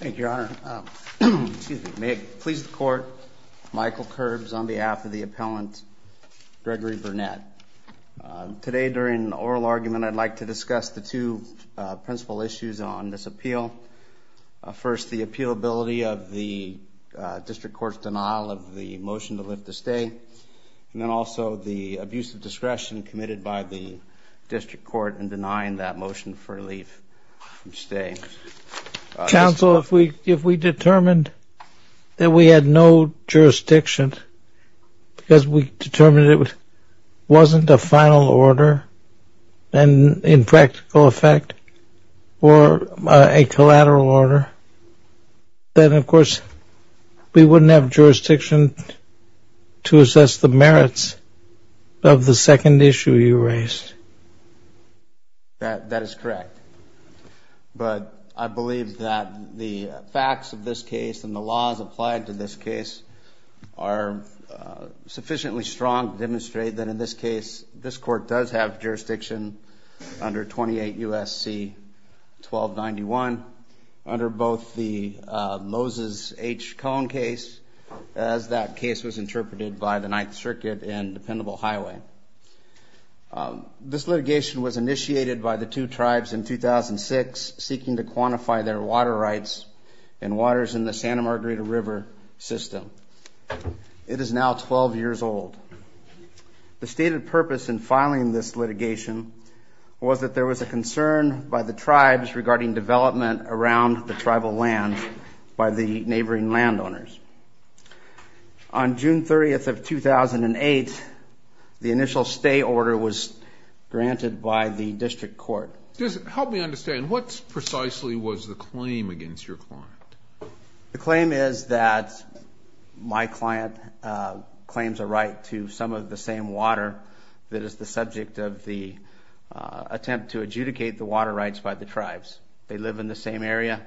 Thank you, Your Honor. May it please the Court, Michael Kerbs on behalf of the appellant Gregory Burnett. Today during oral argument I'd like to discuss the two principal issues on this appeal. First, the appealability of the District Court's denial of the motion to lift the stay, and then also the abuse of discretion committed by the District Court in denying that motion for relief from staying. Counsel, if we determined that we had no jurisdiction, because we determined it wasn't a final order and in practical effect or a collateral order, then of course we wouldn't have jurisdiction to assess the merits of the case. But I believe that the facts of this case and the laws applied to this case are sufficiently strong to demonstrate that in this case, this court does have jurisdiction under 28 U.S.C. 1291, under both the Moses H. Cone case, as that case was interpreted by the Ninth Circuit in Dependable Highway. This litigation was initiated by the two tribes in 2006, seeking to quantify their water rights and waters in the Santa Margarita River system. It is now 12 years old. The stated purpose in filing this litigation was that there was a concern by the tribes regarding development around the tribal land by the neighboring landowners. On June 30th of 2008, the initial stay order was granted by the District Court. Help me understand, what precisely was the claim against your client? The claim is that my client claims a right to some of the same water that is the subject of the attempt to adjudicate the water rights by the tribes. They live in the same area.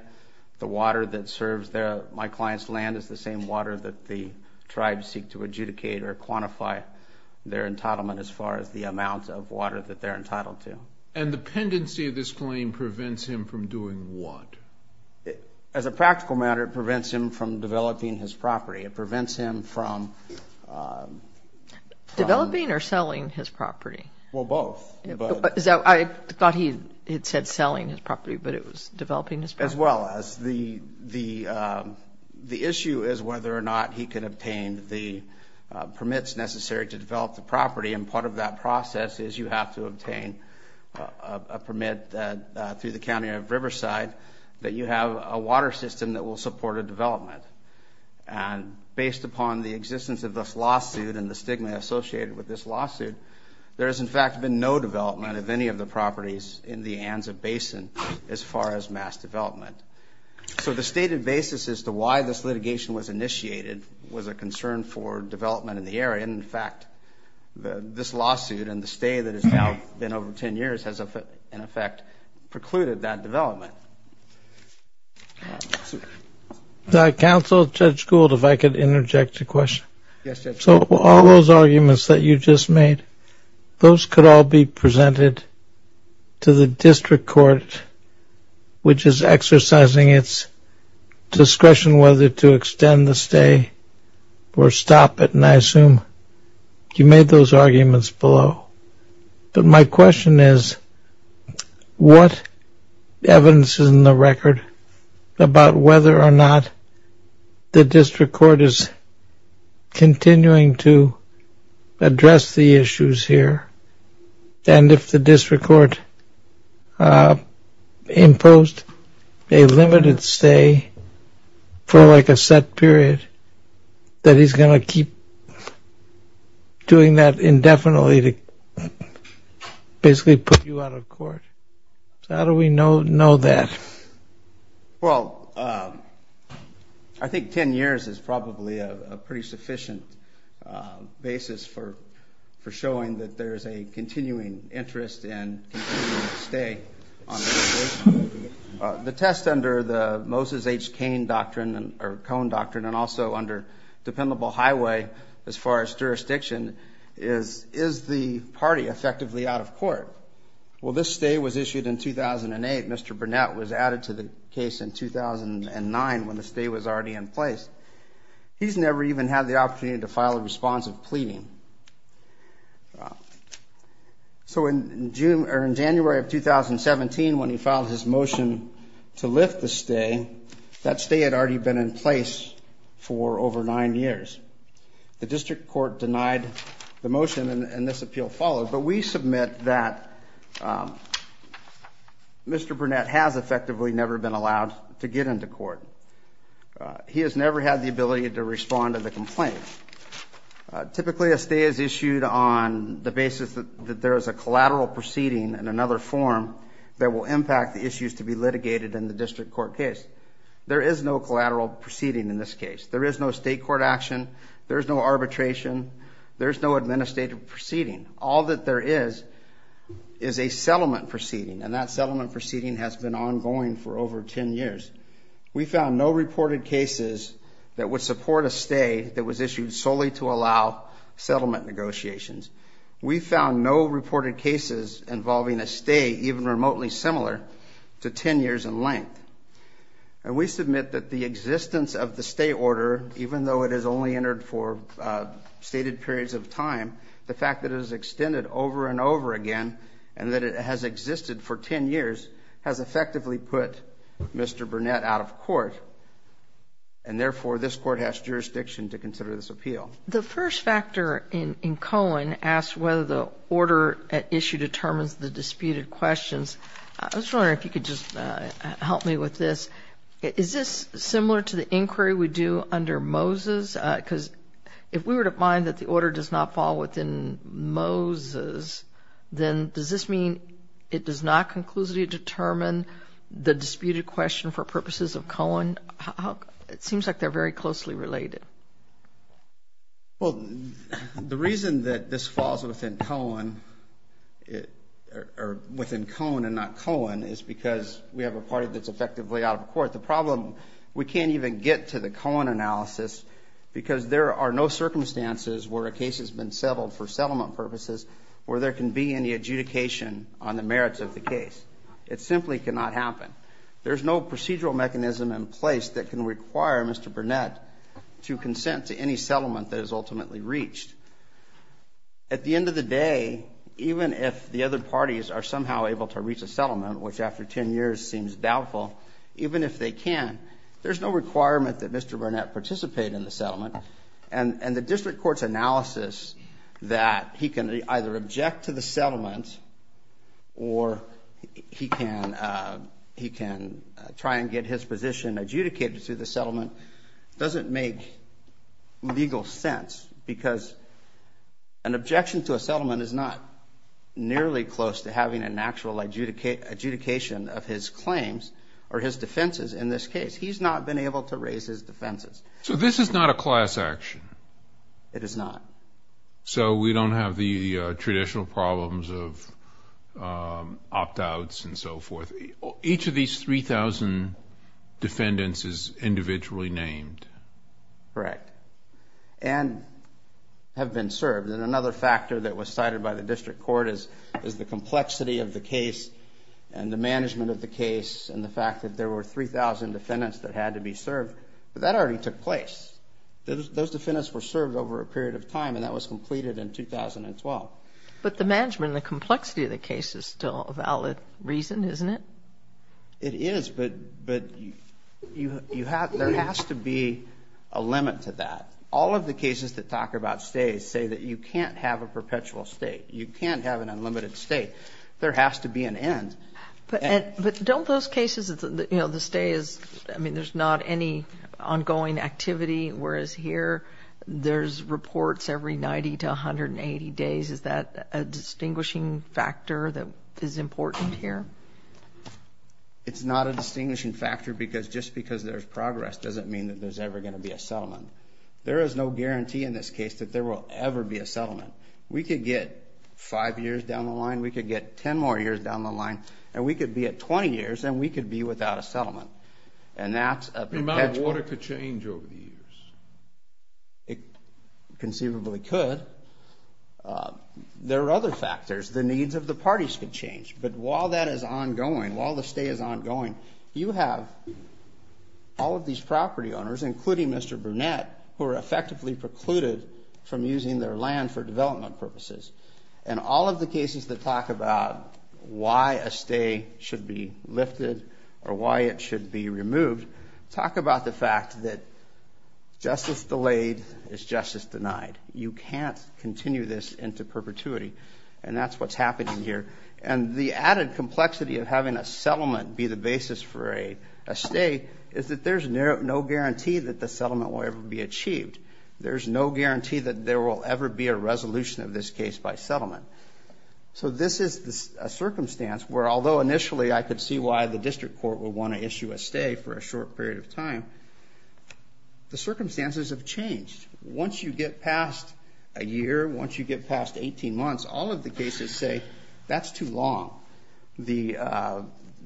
The water that serves my client's land is the same water that the tribes seek to adjudicate or quantify their entitlement as far as the amount of water that they're entitled to. And the pendency of this claim prevents him from doing what? As a practical matter, it prevents him from developing his property. It prevents him from... Developing or selling his property? Well, both. I thought he had said selling his property, but it was developing his property. As well. The issue is whether or not he can obtain the permits necessary to develop the property, and part of that process is you have to obtain a permit through the County of Riverside that you have a water system that will support a development. And based upon the existence of this lawsuit and the stigma associated with this lawsuit, there has in fact been no development of any of the properties in the Anza Basin as far as mass development. So the stated basis as to why this litigation was initiated was a concern for development in the area, and in fact, this lawsuit and the stay that has now been over 10 years has in effect precluded that development. Counsel, Judge Gould, if I could interject a question. Yes, Judge. So all those arguments that you just made, those could all be presented to the district court which is exercising its discretion whether to extend the stay or stop it, and I assume you made those arguments below. But my question is, what evidence is in the record about whether or not the district court is continuing to address the issues here, and if the district court imposed a limited stay for like a set period, that he's going to keep doing that indefinitely to basically put you out of court? How do we know that? Well, I think 10 years is probably a pretty sufficient basis for showing that there is a continuing interest in continuing to stay on this case. The test under the Moses H. Kane Doctrine or Cone Doctrine and also under dependable highway as far as jurisdiction is, is the party effectively out of court? Well, this stay was issued in 2008. Mr. Burnett was added to the case in 2009 when the stay was already in place. He's never even had the opportunity to file a response of the complaint. So in January of 2017 when he filed his motion to lift the stay, that stay had already been in place for over nine years. The district court denied the motion and this appeal followed, but we submit that Mr. Burnett has effectively never been allowed to get into court. He has never had the ability to respond to the complaint. Typically a stay is issued on the basis that there is a collateral proceeding in another form that will impact the issues to be litigated in the district court case. There is no collateral proceeding in this case. There is no state court action. There's no arbitration. There's no administrative proceeding. All that there is is a settlement proceeding and that settlement proceeding has been ongoing for over 10 years. We found no reported cases that would support a stay that was issued solely to allow settlement negotiations. We found no reported cases involving a stay even remotely similar to 10 years in length. And we submit that the existence of the stay order, even though it is only entered for stated periods of time, the fact that it is extended over and over again and that it has existed for 10 years has effectively put Mr. Burnett out of court and therefore this court has jurisdiction to consider this appeal. The first factor in Cohen asked whether the order at issue determines the disputed questions. I was wondering if you could just help me with this. Is this similar to the inquiry we do under Moses? Because if we were to find that the order does not fall within Moses, then does this mean it does not conclusively determine the disputed question for purposes of Cohen? It seems like they're very closely related. Well, the reason that this falls within Cohen or within Cohen and not Cohen is because we have a party that's effectively out of court. The problem, we can't even get to the Cohen analysis because there are no circumstances where a case has been settled for settlement purposes where there can be any adjudication on the merits of the case. It simply cannot happen. There's no procedural mechanism in place that can require Mr. Burnett to consent to any settlement that is ultimately reached. At the end of the day, even if the other parties are somehow able to reach a settlement, which after 10 years seems doubtful, even if they can, there's no requirement that Mr. Burnett participate in the settlement and the district court's analysis that he can either object to the settlement or he can try and get his position adjudicated through the settlement doesn't make legal sense because an objection to a settlement is not nearly close to having an actual adjudication of his claims or his defenses in this case. He's not been able to raise his defenses. So this is not a class action? It is not. So we don't have the traditional problems of opt-outs and so forth. Each of these 3,000 defendants is individually named? Correct. And have been served. And another factor that was cited by the district court is the complexity of the case and the management of the case and the fact that there were 3,000 defendants that had to be served, but that already took place. Those defendants were But the management, the complexity of the case is still a valid reason, isn't it? It is, but there has to be a limit to that. All of the cases that talk about stays say that you can't have a perpetual state. You can't have an unlimited state. There has to be an end. But don't those cases, you know, the stay is, I mean, there's not any ongoing activity, whereas here there's reports every 90 to 180 days. Is that a distinguishing factor that is important here? It's not a distinguishing factor because just because there's progress doesn't mean that there's ever going to be a settlement. There is no guarantee in this case that there will ever be a settlement. We could get 5 years down the line, we could get 10 more years down the line, and we could be at 20 years, and we could be without a settlement. And that's a perpetual... The amount of water could change over the years. It conceivably could. There are other factors. The needs of the parties could change. But while that is ongoing, while the stay is ongoing, you have all of these property owners, including Mr. Burnett, who are effectively precluded from using their land for development purposes. And all of the cases that talk about why a stay should be lifted or why it should be removed, talk about the fact that justice delayed is justice denied. You can't continue this into perpetuity. And that's what's happening here. And the added complexity of having a settlement be the basis for a stay is that there's no guarantee that the settlement will ever be achieved. There's no guarantee that there will ever be a settlement. This is a circumstance where, although initially I could see why the district court would want to issue a stay for a short period of time, the circumstances have changed. Once you get past a year, once you get past 18 months, all of the cases say, that's too long. The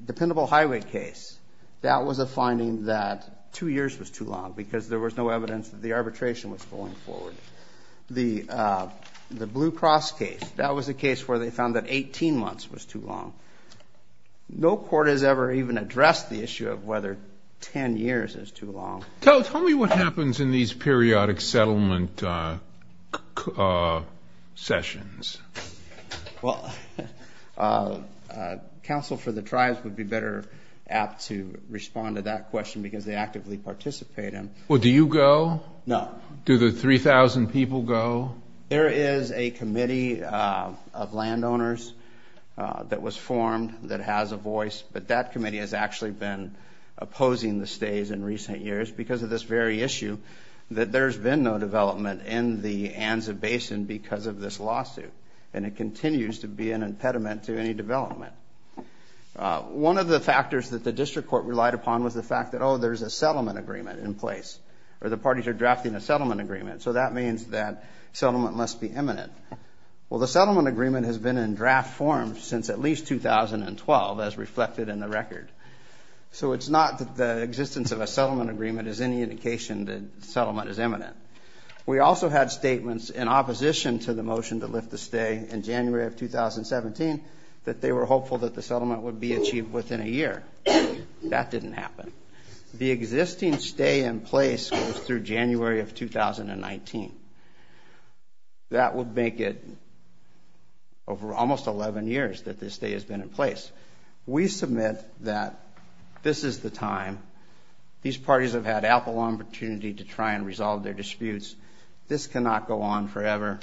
dependable highway case, that was a finding that two years was too long because there was no evidence that the arbitration was going forward. The Blue Cross case, that was a case where they found that 18 months was too long. No court has ever even addressed the issue of whether 10 years is too long. Tell me what happens in these periodic settlement sessions. Well, Council for the Tribes would be better apt to respond to that question because they actively participate in. Well, do you go? No. Do the 3000 people go? There is a committee of landowners that was formed that has a voice, but that committee has actually been opposing the stays in recent years because of this very issue that there's been no development in the Anza Basin because of this lawsuit. And it continues to be an impediment to any development. One of the factors that the district court relied upon was the fact that, oh, there's a settlement agreement in place, or the parties are drafting a settlement agreement. So that means that settlement must be imminent. Well, the settlement agreement has been in draft form since at least 2012, as reflected in the record. So it's not that the existence of a settlement agreement is any indication that settlement is imminent. We also had statements in opposition to the motion to lift the stay in January of 2017 that they were hopeful that the settlement would be achieved within a year. That didn't happen. The existing stay in place goes through January of 2019. That would make it over almost 11 years that this stay has been in place. We submit that this is the time. These parties have had ample opportunity to try and resolve their disputes. This cannot go on forever.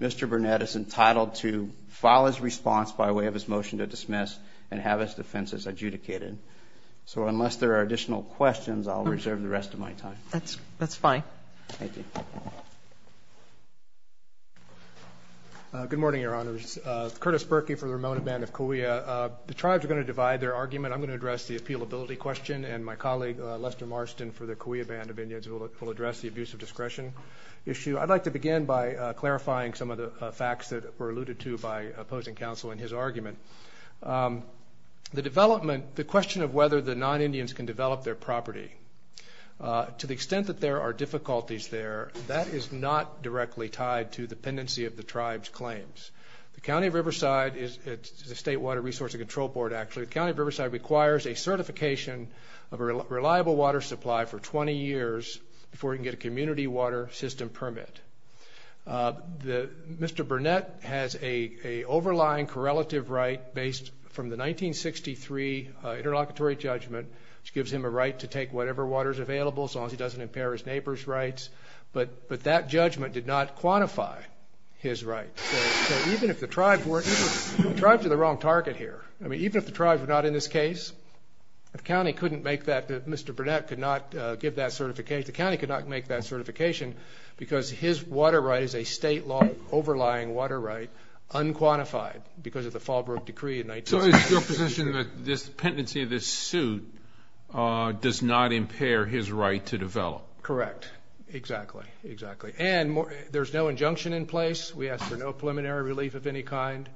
Mr. Burnett is entitled to file his response by way of his motion to dismiss and have his defenses adjudicated. So unless there are additional questions, I'll reserve the rest of my time. That's fine. Thank you. Good morning, Your Honors. Curtis Berkey for the Ramona Band of Cahuilla. The tribes are gonna divide their argument. I'm gonna address the appealability question, and my colleague, Lester Marston, for the Cahuilla Band of Indians will address the abuse of discretion issue. I'd like to begin by clarifying some of the facts that were alluded to by opposing counsel in his argument. The development... The question of whether the non-Indians can develop their property. To the extent that there are difficulties there, that is not directly tied to the pendency of the tribe's claims. The County of Riverside is... It's the State Water Resource and Control Board, actually. The County of Riverside requires a certification of a reliable water supply for 20 years before you can get a community water system permit. Mr. Burnett has a overlying correlative right based from the 1963 Interlocutory Judgment, which gives him a right to take whatever water is available, so long as he doesn't impair his neighbor's rights. But that judgment did not quantify his right. So even if the tribe weren't... The tribes are the wrong target here. Even if the tribe were not in this case, the county couldn't make that... Mr. Burnett could not give that certification... His water right is a state law overlying water right unquantified because of the Fallbrook Decree in 1963. So it's your position that this pendency of this suit does not impair his right to develop? Correct. Exactly, exactly. And there's no injunction in place. We ask for no preliminary relief of any kind.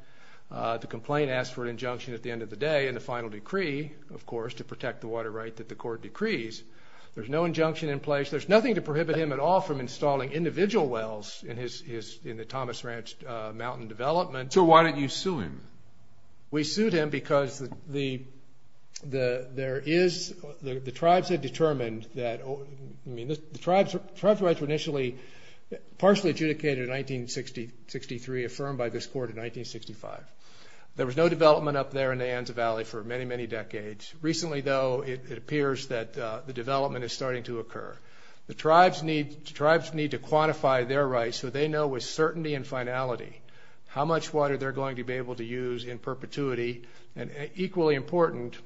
The complaint asks for an injunction at the end of the day, and the final decree, of course, to protect the water right that the court decrees. There's no injunction in place. There's nothing to do with the residual wells in the Thomas Ranch Mountain development. So why didn't you sue him? We sued him because the tribes had determined that... The tribes' rights were initially partially adjudicated in 1963, affirmed by this court in 1965. There was no development up there in the Anza Valley for many, many decades. Recently, the tribes need to quantify their rights so they know with certainty and finality how much water they're going to be able to use in perpetuity, and equally important,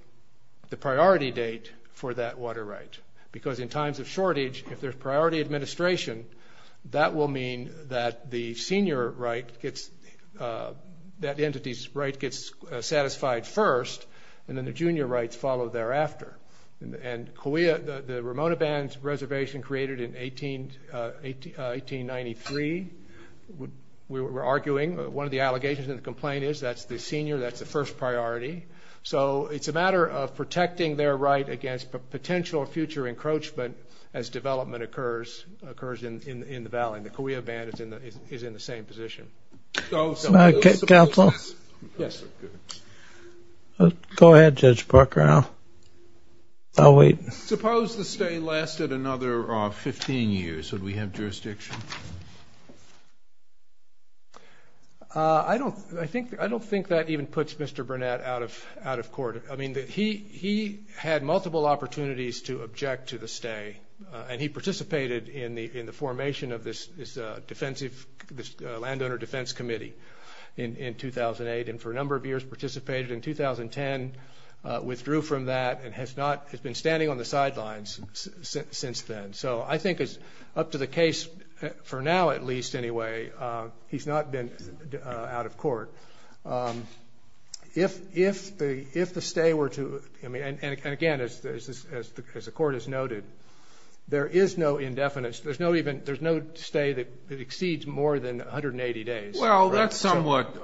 the priority date for that water right. Because in times of shortage, if there's priority administration, that will mean that the senior right gets... That entity's right gets satisfied first, and then the junior rights follow thereafter. And Cahuilla, the Ramona Band's reservation created in 1893, we're arguing, one of the allegations in the complaint is that's the senior, that's the first priority. So it's a matter of protecting their right against potential future encroachment as development occurs in the valley, and the Cahuilla Band is in the same position. Counsel? Yes, sir. Go ahead, Judge Parker. I'll wait. Suppose the stay lasted another 15 years. Would we have jurisdiction? I don't think that even puts Mr. Burnett out of court. He had multiple opportunities to object to the stay, and he participated in the formation of this landowner defense committee in 2008, and for a number of years participated. In 2010, withdrew from that and has been standing on the sidelines since then. So I think it's up to the case, for now at least, anyway, he's not been out of court. If the stay were to... And again, as the court has noted, there is no indefinite... There's no stay that exceeds more than 180 days. Well, that's somewhat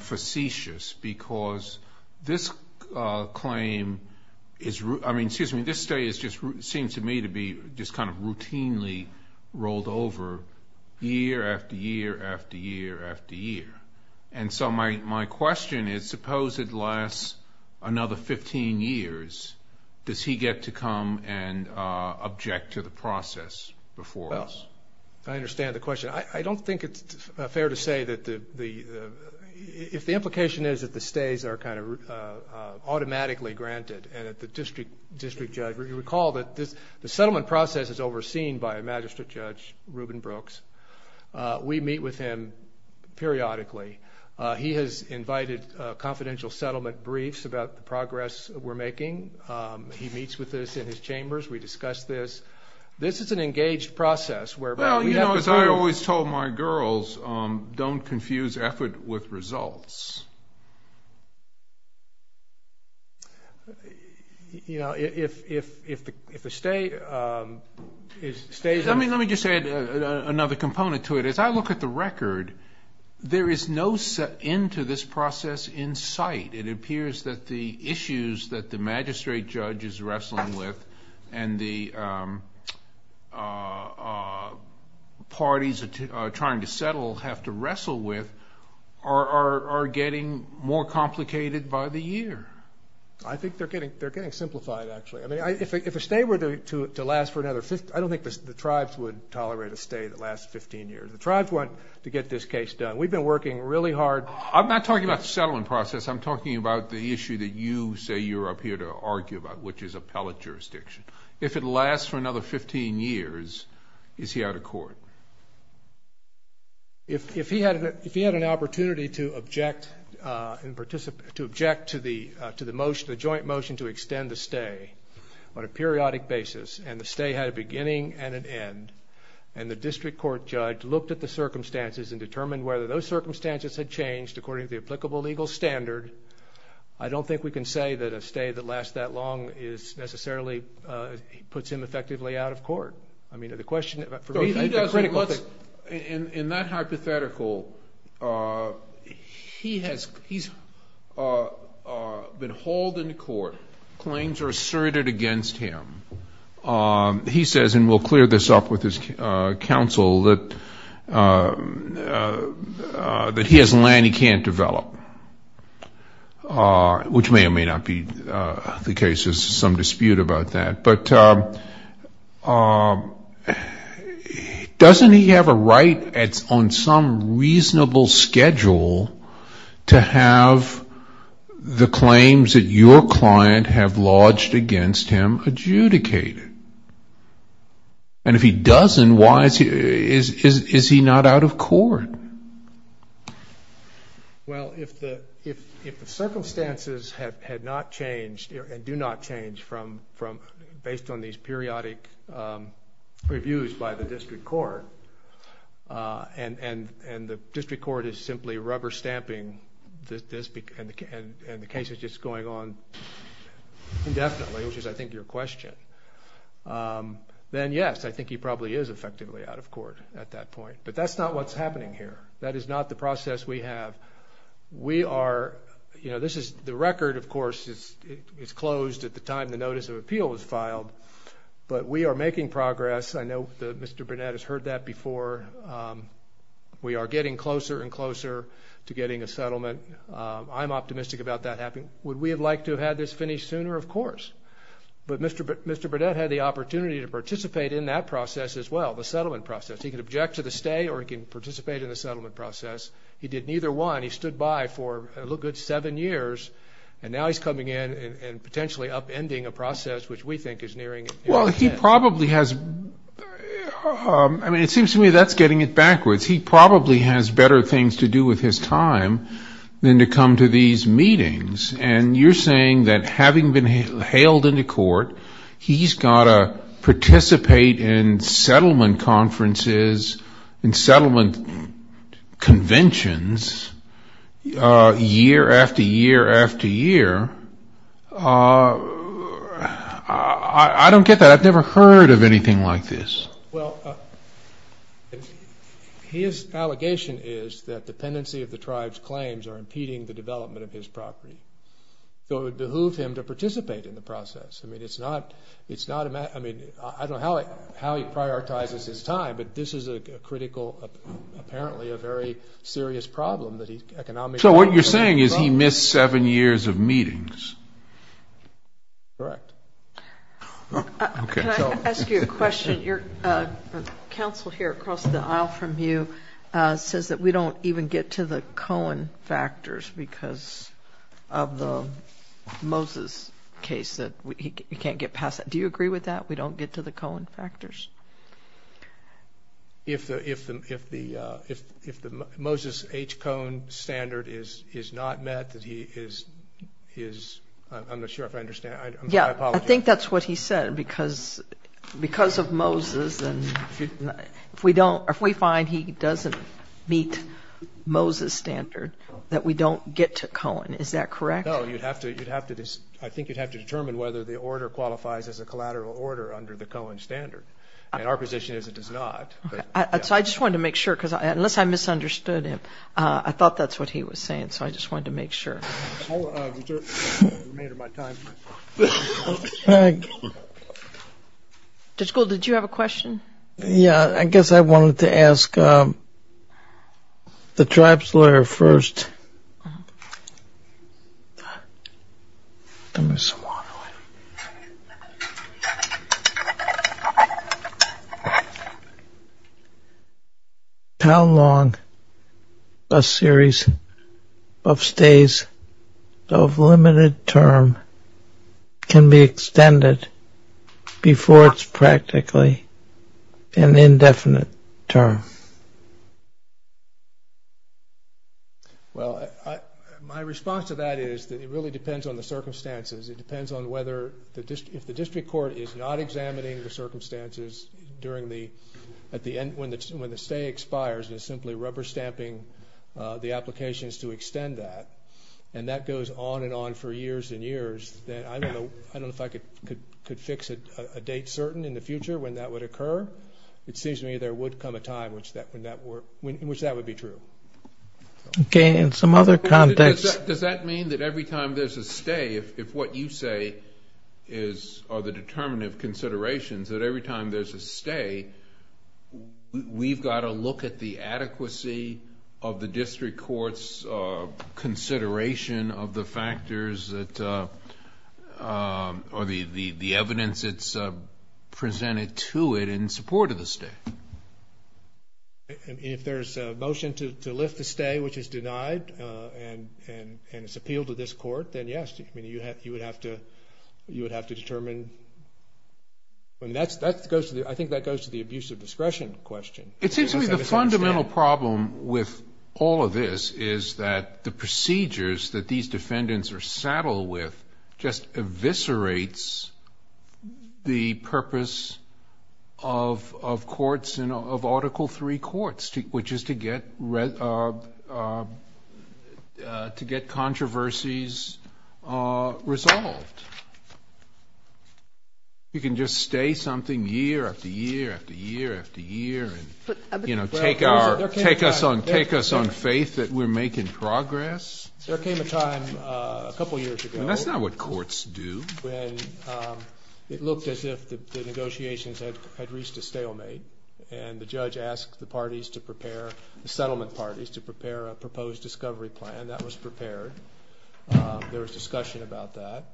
facetious because this claim is... I mean, excuse me, this stay is just... Seems to me to be just kind of routinely rolled over year after year after year after year. And so my question is, suppose it lasts another 15 years, does he get to come and object to the process before us? Well, I understand the question. I don't think it's fair to say that the... If the implication is that the stays are kind of automatically granted, and that the district judge... You recall that the settlement process is overseen by a magistrate judge, Ruben Brooks. We meet with him periodically. He has invited confidential settlement briefs about the progress we're making. He meets with us in his chambers, we discuss this. This is an engaged process whereby... Well, as I always told my girls, don't confuse effort with results. Let me just add another component to it. As I look at the record, there is no set end to this process in sight. It appears that the issues that the magistrate judge is wrestling with and the parties are trying to settle have to wrestle with are getting more complicated by the year. I think they're getting simplified, actually. If a stay were to last for another... I don't think the tribes would tolerate a stay that lasts 15 years. The tribes want to get this case done. We've been working really hard... I'm not talking about the settlement process, I'm talking about the issue that you say you're up here to argue about, which is appellate jurisdiction. If it lasts for another 15 years, is he out of court? If he had an opportunity to object to the motion, the joint motion to extend the stay on a periodic basis, and the stay had a beginning and an end, and the district court judge looked at the circumstances and determined whether those circumstances had changed according to the applicable legal standard, I don't think we can say that a stay that lasts that long is necessarily... Puts him effectively out of court. I mean, the question for me... He doesn't... In that hypothetical, he has... He's been hauled into court, claims are asserted against him. He says, and we'll clear this up with his counsel, that he has land he can't develop, which may or may not be the case. There's some dispute about that. But doesn't he have a right on some reasonable schedule to have the claims that your client have lodged against him adjudicated? And if he doesn't, why is he... Is he not out of court? Well, if the circumstances had not changed, and do not change from... Based on these periodic reviews by the district court, and the district court is simply rubber stamping this, and the case is just going on indefinitely, which is, I think, your question, then yes, I think he probably is effectively out of court at that point. But that's not what's happening here. That is not the process we have. We are... This is... The record, of course, is closed at the time the Notice of Appeal was filed, but we are making progress. I know Mr. Burnett has heard that before. We are getting closer and closer to getting a settlement. I'm optimistic about that happening. Would we have liked to have had this finished sooner? Of course. But Mr. Burnett had the opportunity to participate in that process as well, the settlement process. He can object to the stay, or he can participate in the settlement process. He did neither one. He stood by for a little good seven years, and now he's coming in and potentially upending a process which we think is nearing its end. Well, he probably has... I mean, it seems to me that's getting it backwards. He probably has better things to do with his time than to come to these meetings, and you're saying that having been hailed into court, he's got to participate in settlement conferences and settlement conventions year after year after year. I don't get that. I've never heard of anything like this. Well, his allegation is that dependency of the tribe's claims are impeding the development of his property. So it would behoove him to participate in the process. I mean, it's not... I mean, I don't know how he prioritizes his time, but this is a critical, apparently, a very serious problem that he's economically... So what you're saying is he missed seven years of meetings? Correct. Can I ask you a question? Your counsel here across the aisle from you says that we don't even get to the Cohen factors because of the Moses case, that he can't get past that. Do you agree with that? We don't get to the Cohen factors? If the Moses H. Cohen standard is not met, that he is... I'm not sure if I understand. I apologize. Yeah, I think that's what he said, because of Moses, and if we don't... If we don't meet Moses' standard, that we don't get to Cohen. Is that correct? No, you'd have to... I think you'd have to determine whether the order qualifies as a collateral order under the Cohen standard. And our position is it does not. Okay. So I just wanted to make sure, because unless I misunderstood him, I thought that's what he was saying. So I just wanted to make sure. I'll reserve the remainder of my time. Judge Gould, did you have a question? Yeah, I guess I wanted to ask the tribes lawyer first. How long a series of stays of limited term can be extended before it's practically an indefinite term? Well, my response to that is that it really depends on the circumstances. It depends on whether... If the district court is not examining the circumstances during the... At the end, when the stay expires, and is simply rubber stamping the applications to extend that, and that goes on and on for years and years, then I don't know if I could fix a date certain in the future when that would occur. It seems to me there would come a time in which that would be true. Okay. In some other contexts... Does that mean that every time there's a stay, if what you say are the determinative considerations, that every time there's a stay, we've gotta look at the adequacy of the district court's consideration of the factors that... Or the evidence that's presented to it in support of the stay. And if there's a motion to lift the stay, which is denied, and it's appealed to this court, then yes, you would have to determine... I think that goes to the abuse of discretion question. It seems to me the fundamental problem with all of this is that the procedures that these defendants are saddled with just eviscerates the purpose of courts, of Article III courts, which is to get controversies resolved. You can just stay something year after year after year and take us on faith that we're making progress. There came a time a couple of years ago... That's not what courts do. When it looked as if the negotiations had reached a stalemate, and the judge asked the parties to prepare, the settlement parties, to prepare a proposed discovery plan, that was prepared. There was discussion about that.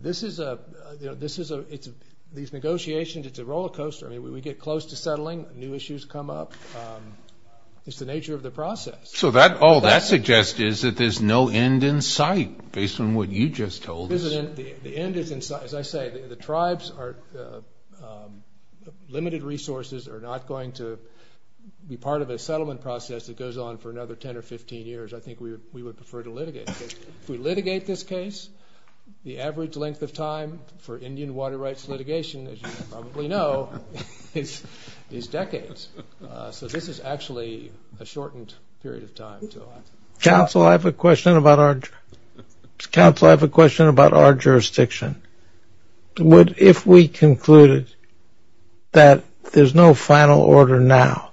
This is a... These negotiations, it's a roller coaster. We get close to settling, new issues come up. It's the nature of the process. So all that suggests is that there's no end in sight based on what you just told us. The end is in sight. As I say, the tribes are... Limited resources are not going to be part of a settlement process that goes on for another 10 or 15 years. I think we would prefer to litigate. If we litigate this case, the average length of time for Indian water rights litigation, as you probably know, is decades. So this is actually a shortened period of time. Counsel, I have a question about our... Counsel, I have a question about our jurisdiction. If we concluded that there's no final order now,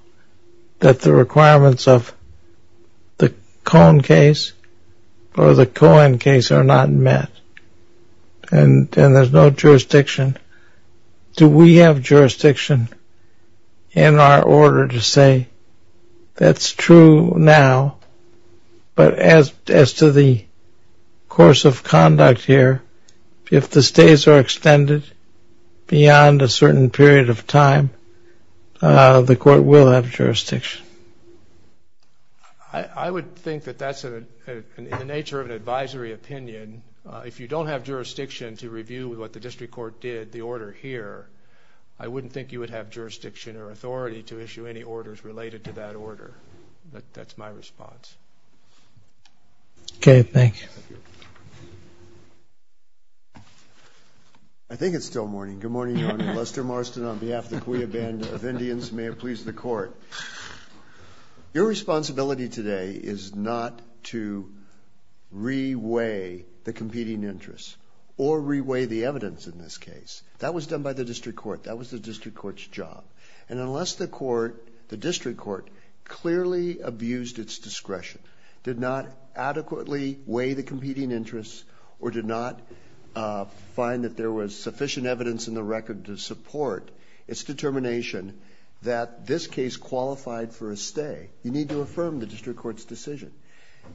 that the requirements of the Cohen case or the Cohen case are not met, and there's no jurisdiction, do we have jurisdiction in our order to say, that's true now, but as to the course of conduct here, if the stays are extended beyond a certain period of time, the court will have jurisdiction? I would think that that's in the nature of an advisory opinion. If you don't have jurisdiction to review what the district court did, the order here, I wouldn't think you would have jurisdiction or authority to issue any orders related to that order. That's my response. Okay, thank you. I think it's still morning. Good morning, Your Honor. Lester Marston on behalf of the Cuyah Band of Indians. May it please the court. Your responsibility today is not to reweigh the competing interests or reweigh the evidence in this case. That was done by the district court. That was the district court's job. And unless the court, the district court, clearly abused its discretion, did not adequately weigh the competing interests or did not find that there was sufficient evidence in the record to support its determination that this case qualified for a stay, you need to affirm the district court's decision.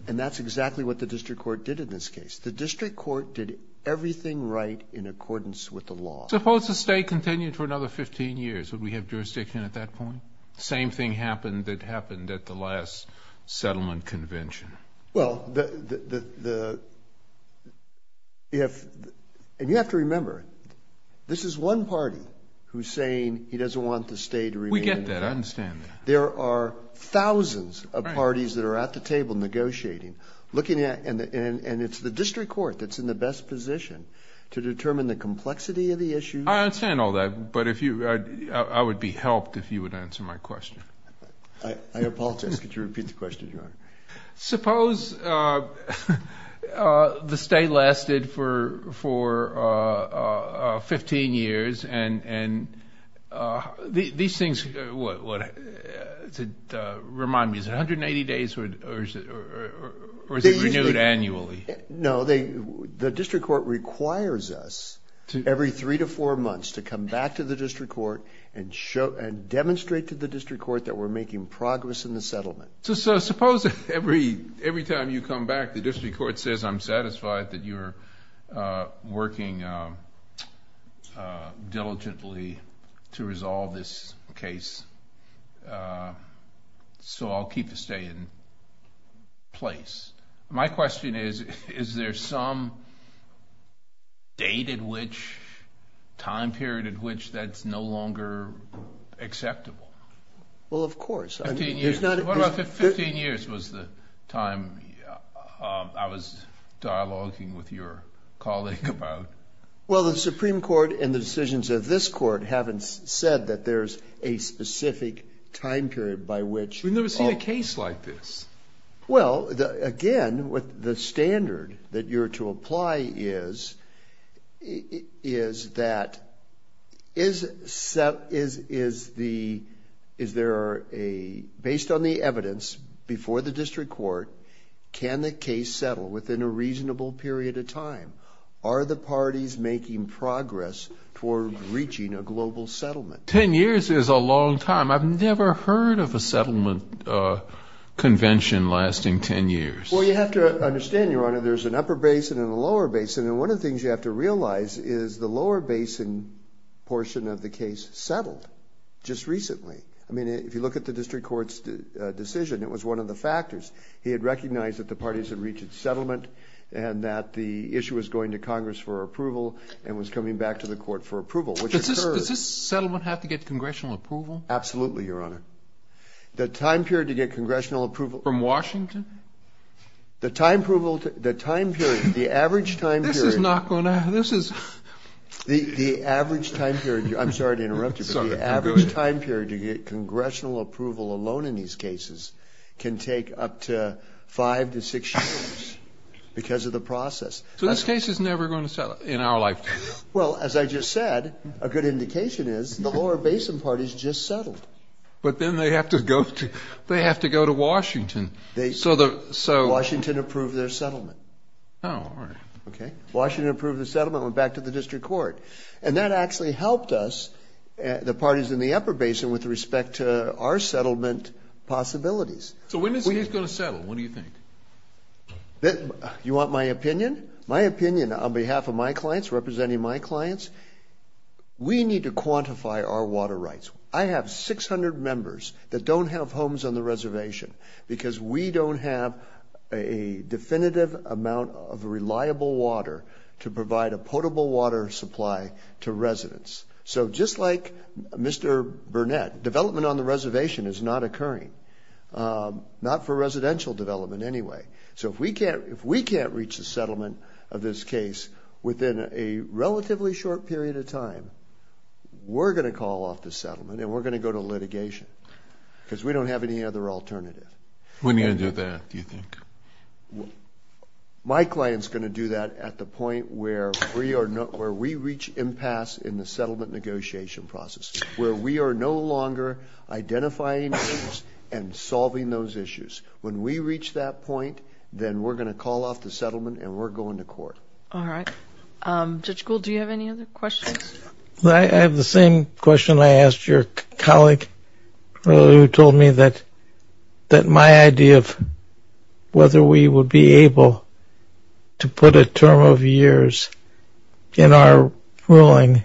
And that's exactly what the district court did in this case. The district court did everything right in accordance with the law. Suppose the stay continued for another 15 years. Would we have jurisdiction at that point? Same thing happened that happened at the last settlement convention. Well, and you have to remember, this is one party who's saying he doesn't want the stay to remain. We get that. I understand that. There are thousands of parties that are at the table negotiating, looking at, and it's the district court that's in the best position to determine the complexity of the issue. I understand all that, but I would be helped if you would answer my question. I apologize. Could you repeat the question, Your Honor? Suppose the stay lasted for 15 years and these things... Remind me, is it 180 days or is it renewed annually? No, the district court requires us every three to four months to come back to the district court and demonstrate to the district court that we're making progress in the settlement. So suppose every time you come back, the district court says, I'm satisfied that you're working diligently to resolve this case, so I'll keep the stay in place. My question is, is there some date at which, time period at which that's no longer acceptable? Well, of course. 15 years was the time I was dialoguing with your colleague about. Well, the Supreme Court and the decisions of this court haven't said that there's a specific time period by which... We've never seen a case like this. Well, again, with the standard that you're to apply is that... Based on the evidence before the district court, can the case settle within a reasonable period of time? Are the parties making progress toward reaching a global settlement? 10 years is a long time. I've never heard of a settlement convention lasting 10 years. Well, you have to understand, Your Honor, there's an upper basin and a lower basin, and one of the things you have to realize is the lower basin portion of the case settled just recently. If you look at the district court's decision, it was one of the factors. He had recognized that the parties had reached its settlement and that the issue was going to Congress for approval and was coming back to the court for approval, which occurred... Does this settlement have to get congressional approval? Absolutely, Your Honor. The time period to get the average time period... This is not going to... This is... The average time period... I'm sorry to interrupt you, but the average time period to get congressional approval alone in these cases can take up to five to six years because of the process. So this case is never going to settle in our lifetime? Well, as I just said, a good indication is the lower basin party's just settled. But then they have to go to Washington. They... So the... So... Washington approved their settlement. Oh, alright. Okay. Washington approved the settlement and went back to the district court. And that actually helped us, the parties in the upper basin, with respect to our settlement possibilities. So when is this going to settle? What do you think? You want my opinion? My opinion on behalf of my clients, representing my clients, we need to quantify our water rights. I have 600 members that don't have homes on the reservation because we don't have a definitive amount of reliable water to provide a potable water supply to residents. So just like Mr. Burnett, development on the reservation is not occurring, not for residential development anyway. So if we can't reach a settlement of this case within a relatively short period of time, we're going to call off the settlement and we're going to go to litigation because we don't have any other alternative. When are you going to do that, do you think? My client's going to do that at the point where we reach impasse in the settlement negotiation process, where we are no longer identifying issues and solving those issues. When we reach that point, then we're going to call off the settlement and we're going to court. Alright. Judge Gould, do you have any other questions? I have the same question I asked your colleague, who told me that my idea of whether we would be able to put a term of years in our ruling,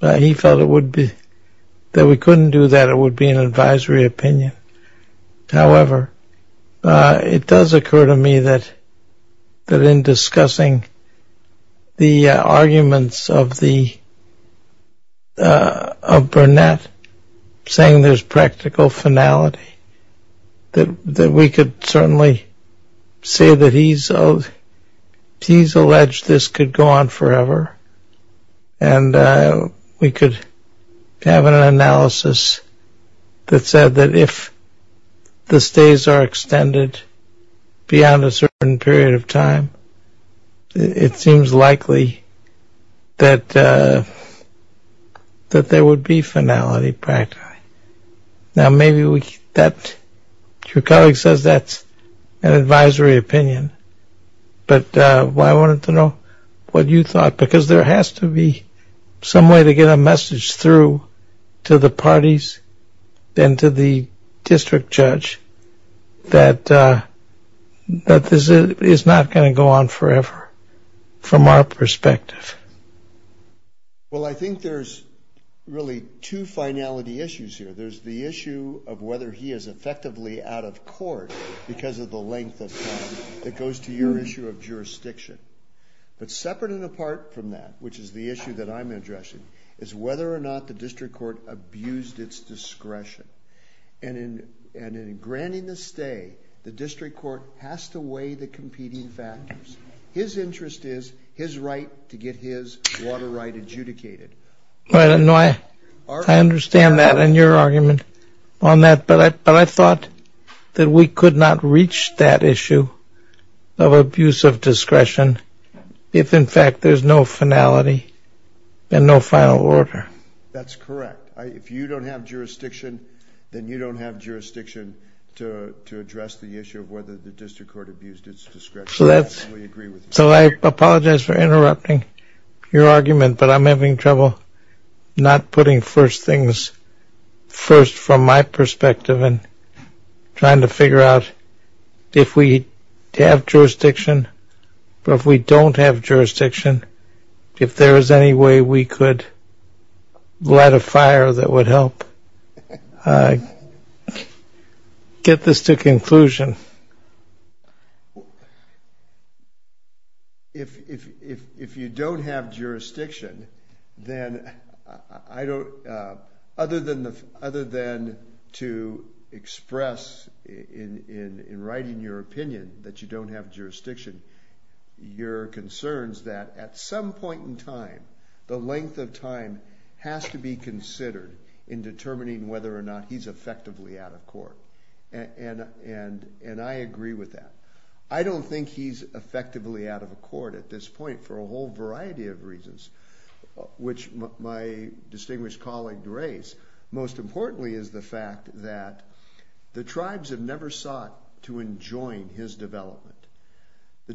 he felt that we couldn't do that, it would be an advisory opinion. However, it does occur to me that in discussing the arguments of Burnett, saying there's practical finality, that we could certainly say that he's alleged this could go on forever. And we could have an analysis that said that if the stays are extended beyond a certain period of time, it seems likely that there would be finality, practically. Now, maybe your colleague says that's an advisory opinion, but I wanted to know what you thought, because there has to be some way to get a case, then to the district judge, that this is not going to go on forever, from our perspective. Well, I think there's really two finality issues here. There's the issue of whether he is effectively out of court because of the length of time that goes to your issue of jurisdiction. But separate and apart from that, which is the issue that I'm addressing, is whether or not the district court abused its discretion. And in granting the stay, the district court has to weigh the competing factors. His interest is his right to get his water right adjudicated. I understand that and your argument on that, but I thought that we could not reach that issue of abuse of discretion, if in fact there's no finality and no final order. That's correct. If you don't have jurisdiction, then you don't have jurisdiction to address the issue of whether the district court abused its discretion. I fully agree with you. So I apologize for interrupting your argument, but I'm having trouble not putting first things first, from my perspective, and trying to figure out if we have jurisdiction, or if we don't have jurisdiction, if there is any way we could light a fire that would help get this to conclusion. If you don't have jurisdiction, then other than to express in writing your opinion that you don't have jurisdiction, your concern is that at some point in time, the length of time has to be considered in determining whether or not he's effectively out of court. And I agree with that. I don't think he's effectively out of court at this point for a whole variety of reasons, which my distinguished colleague raised. Most importantly is the fact that the tribes have never sought to enjoin his development. The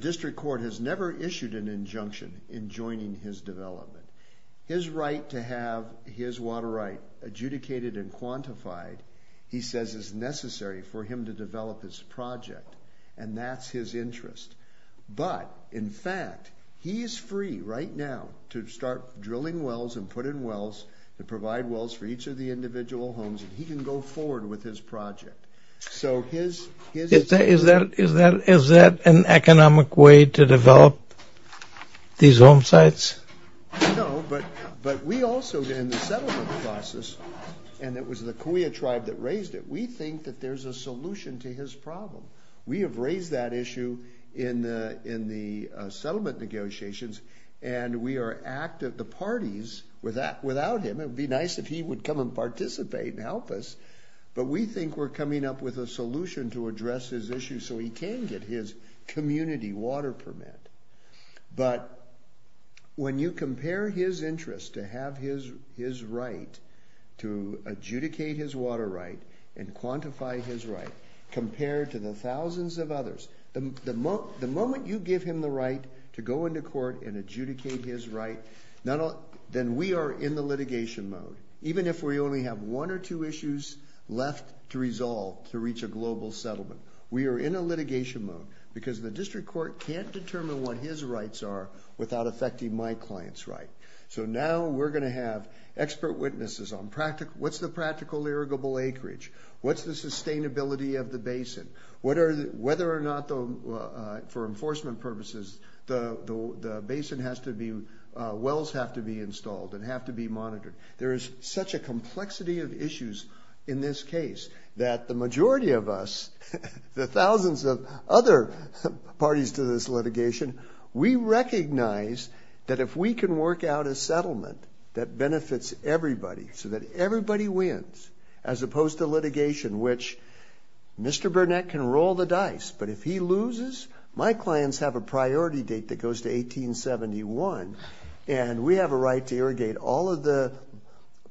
right to have his water right adjudicated and quantified, he says, is necessary for him to develop his project, and that's his interest. But in fact, he is free right now to start drilling wells and put in wells, to provide wells for each of the individual homes, and he can go forward with his project. Is that an economic way to develop these home sites? No, but we also, in the settlement process, and it was the Cahuilla tribe that raised it, we think that there's a solution to his problem. We have raised that issue in the settlement negotiations, and we are active, the parties, without him. It would be great to have him participate and help us, but we think we're coming up with a solution to address his issue so he can get his community water permit. But when you compare his interest to have his right to adjudicate his water right and quantify his right, compared to the thousands of others, the moment you give him the right to go into court and adjudicate his right, then we are in the litigation mode. Even if we only have one or two issues left to resolve to reach a global settlement, we are in a litigation mode because the district court can't determine what his rights are without affecting my client's right. So now we're going to have expert witnesses on what's the practical irrigable acreage, what's the sustainability of the basin, whether or not, for enforcement purposes, the basin has to be, wells have to be installed and have to be monitored. There is such a complexity of issues in this case that the majority of us, the thousands of other parties to this litigation, we recognize that if we can work out a settlement that benefits everybody so that everybody wins, as opposed to litigation, which Mr. Burnett can roll the dice, but if he loses, my clients have a priority date that goes to 1871, and we have a right to irrigate all of the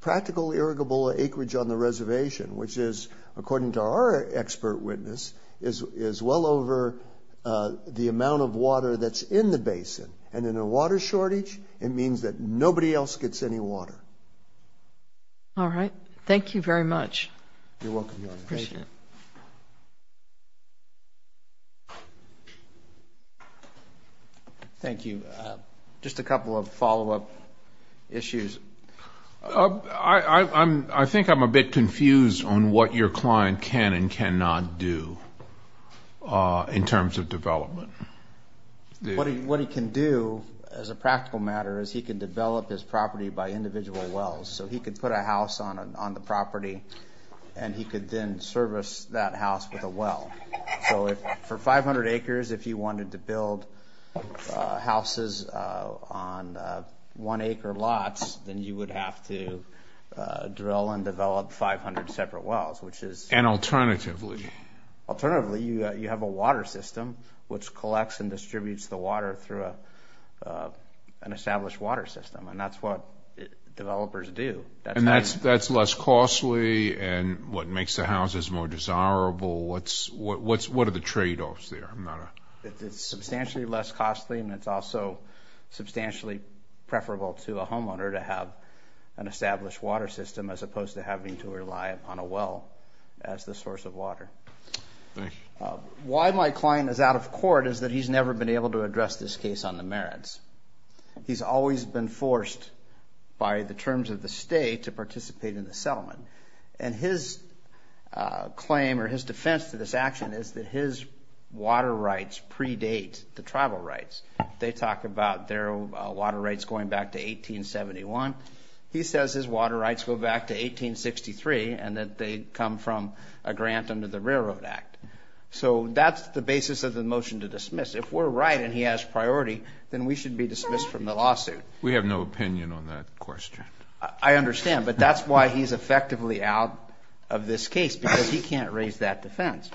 practical irrigable acreage on the reservation, which is, according to our expert witness, is well over the amount of water that's in the basin. And in a water shortage, it means that nobody else gets any water. All right. Thank you very much. You're welcome. Appreciate it. Thank you. Just a couple of follow up issues. I think I'm a bit confused on what your client can and cannot do in terms of development. What he can do, as a practical matter, is he can develop his property by individual wells. So he could put a house on the property and he could then service that house with a well. For 500 acres, if you wanted to build houses on one acre lots, then you would have to drill and develop 500 separate wells, which is... And alternatively. Alternatively, you have a water system which collects and distributes the water through an established water system, and that's what developers do. And that's less costly and what makes the houses more desirable. What are the trade offs there? I'm not a... It's substantially less costly and it's also substantially preferable to a homeowner to have an established water system as opposed to having to rely upon a well as the source of water. Thank you. Why my client is out of court is that he's never been able to address this case on the merits. He's always been forced by the terms of the state to participate in the settlement. And his claim or his defense to this action is that his water rights predate the tribal rights. They talk about their water rights going back to 1871. He says his water rights go back to 1863 and that they come from a grant under the Railroad Act. So that's the basis of the motion to dismiss. If we're right and he has priority, then we should be dismissed from the lawsuit. We have no opinion on that question. I understand, but that's why he's effectively out of this case because he can't raise that defense.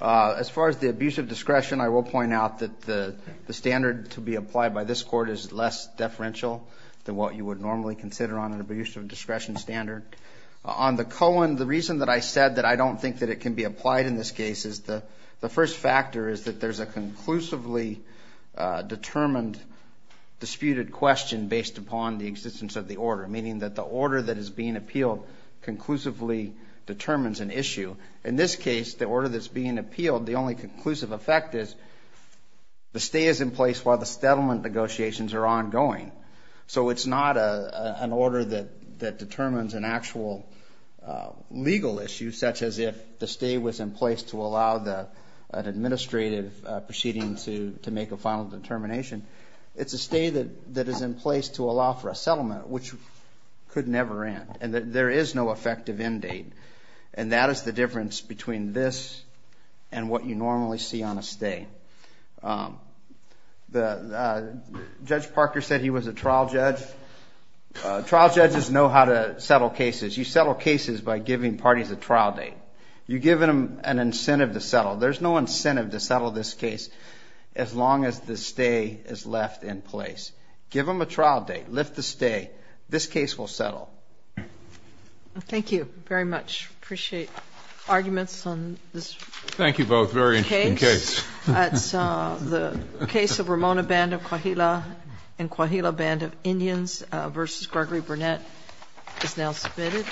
As far as the abuse of discretion, I will point out that the standard to be applied by this court is less deferential than what you would normally consider on an abuse of discretion standard. On the Cohen, the reason that I said that I don't think that it can be applied in this case is the first factor is that there's a disputed question based upon the existence of the order, meaning that the order that is being appealed conclusively determines an issue. In this case, the order that's being appealed, the only conclusive effect is the stay is in place while the settlement negotiations are ongoing. So it's not an order that determines an actual legal issue, such as if the stay was in place to allow an administrative proceeding to make a final determination. It's a stay that is in place to allow for a settlement, which could never end, and there is no effective end date. And that is the difference between this and what you normally see on a stay. Judge Parker said he was a trial judge. Trial judges know how to settle cases. You settle cases by giving parties a trial date. You give them an incentive to settle. There's no incentive to settle this case, as long as the stay is left in place. Give them a trial date, lift the stay, this case will settle. Thank you very much. Appreciate arguments on this. Thank you both. Very interesting case. That's the case of Ramona Band of Coahuila and Coahuila Band of Indians versus Gregory Burnett is now submitted.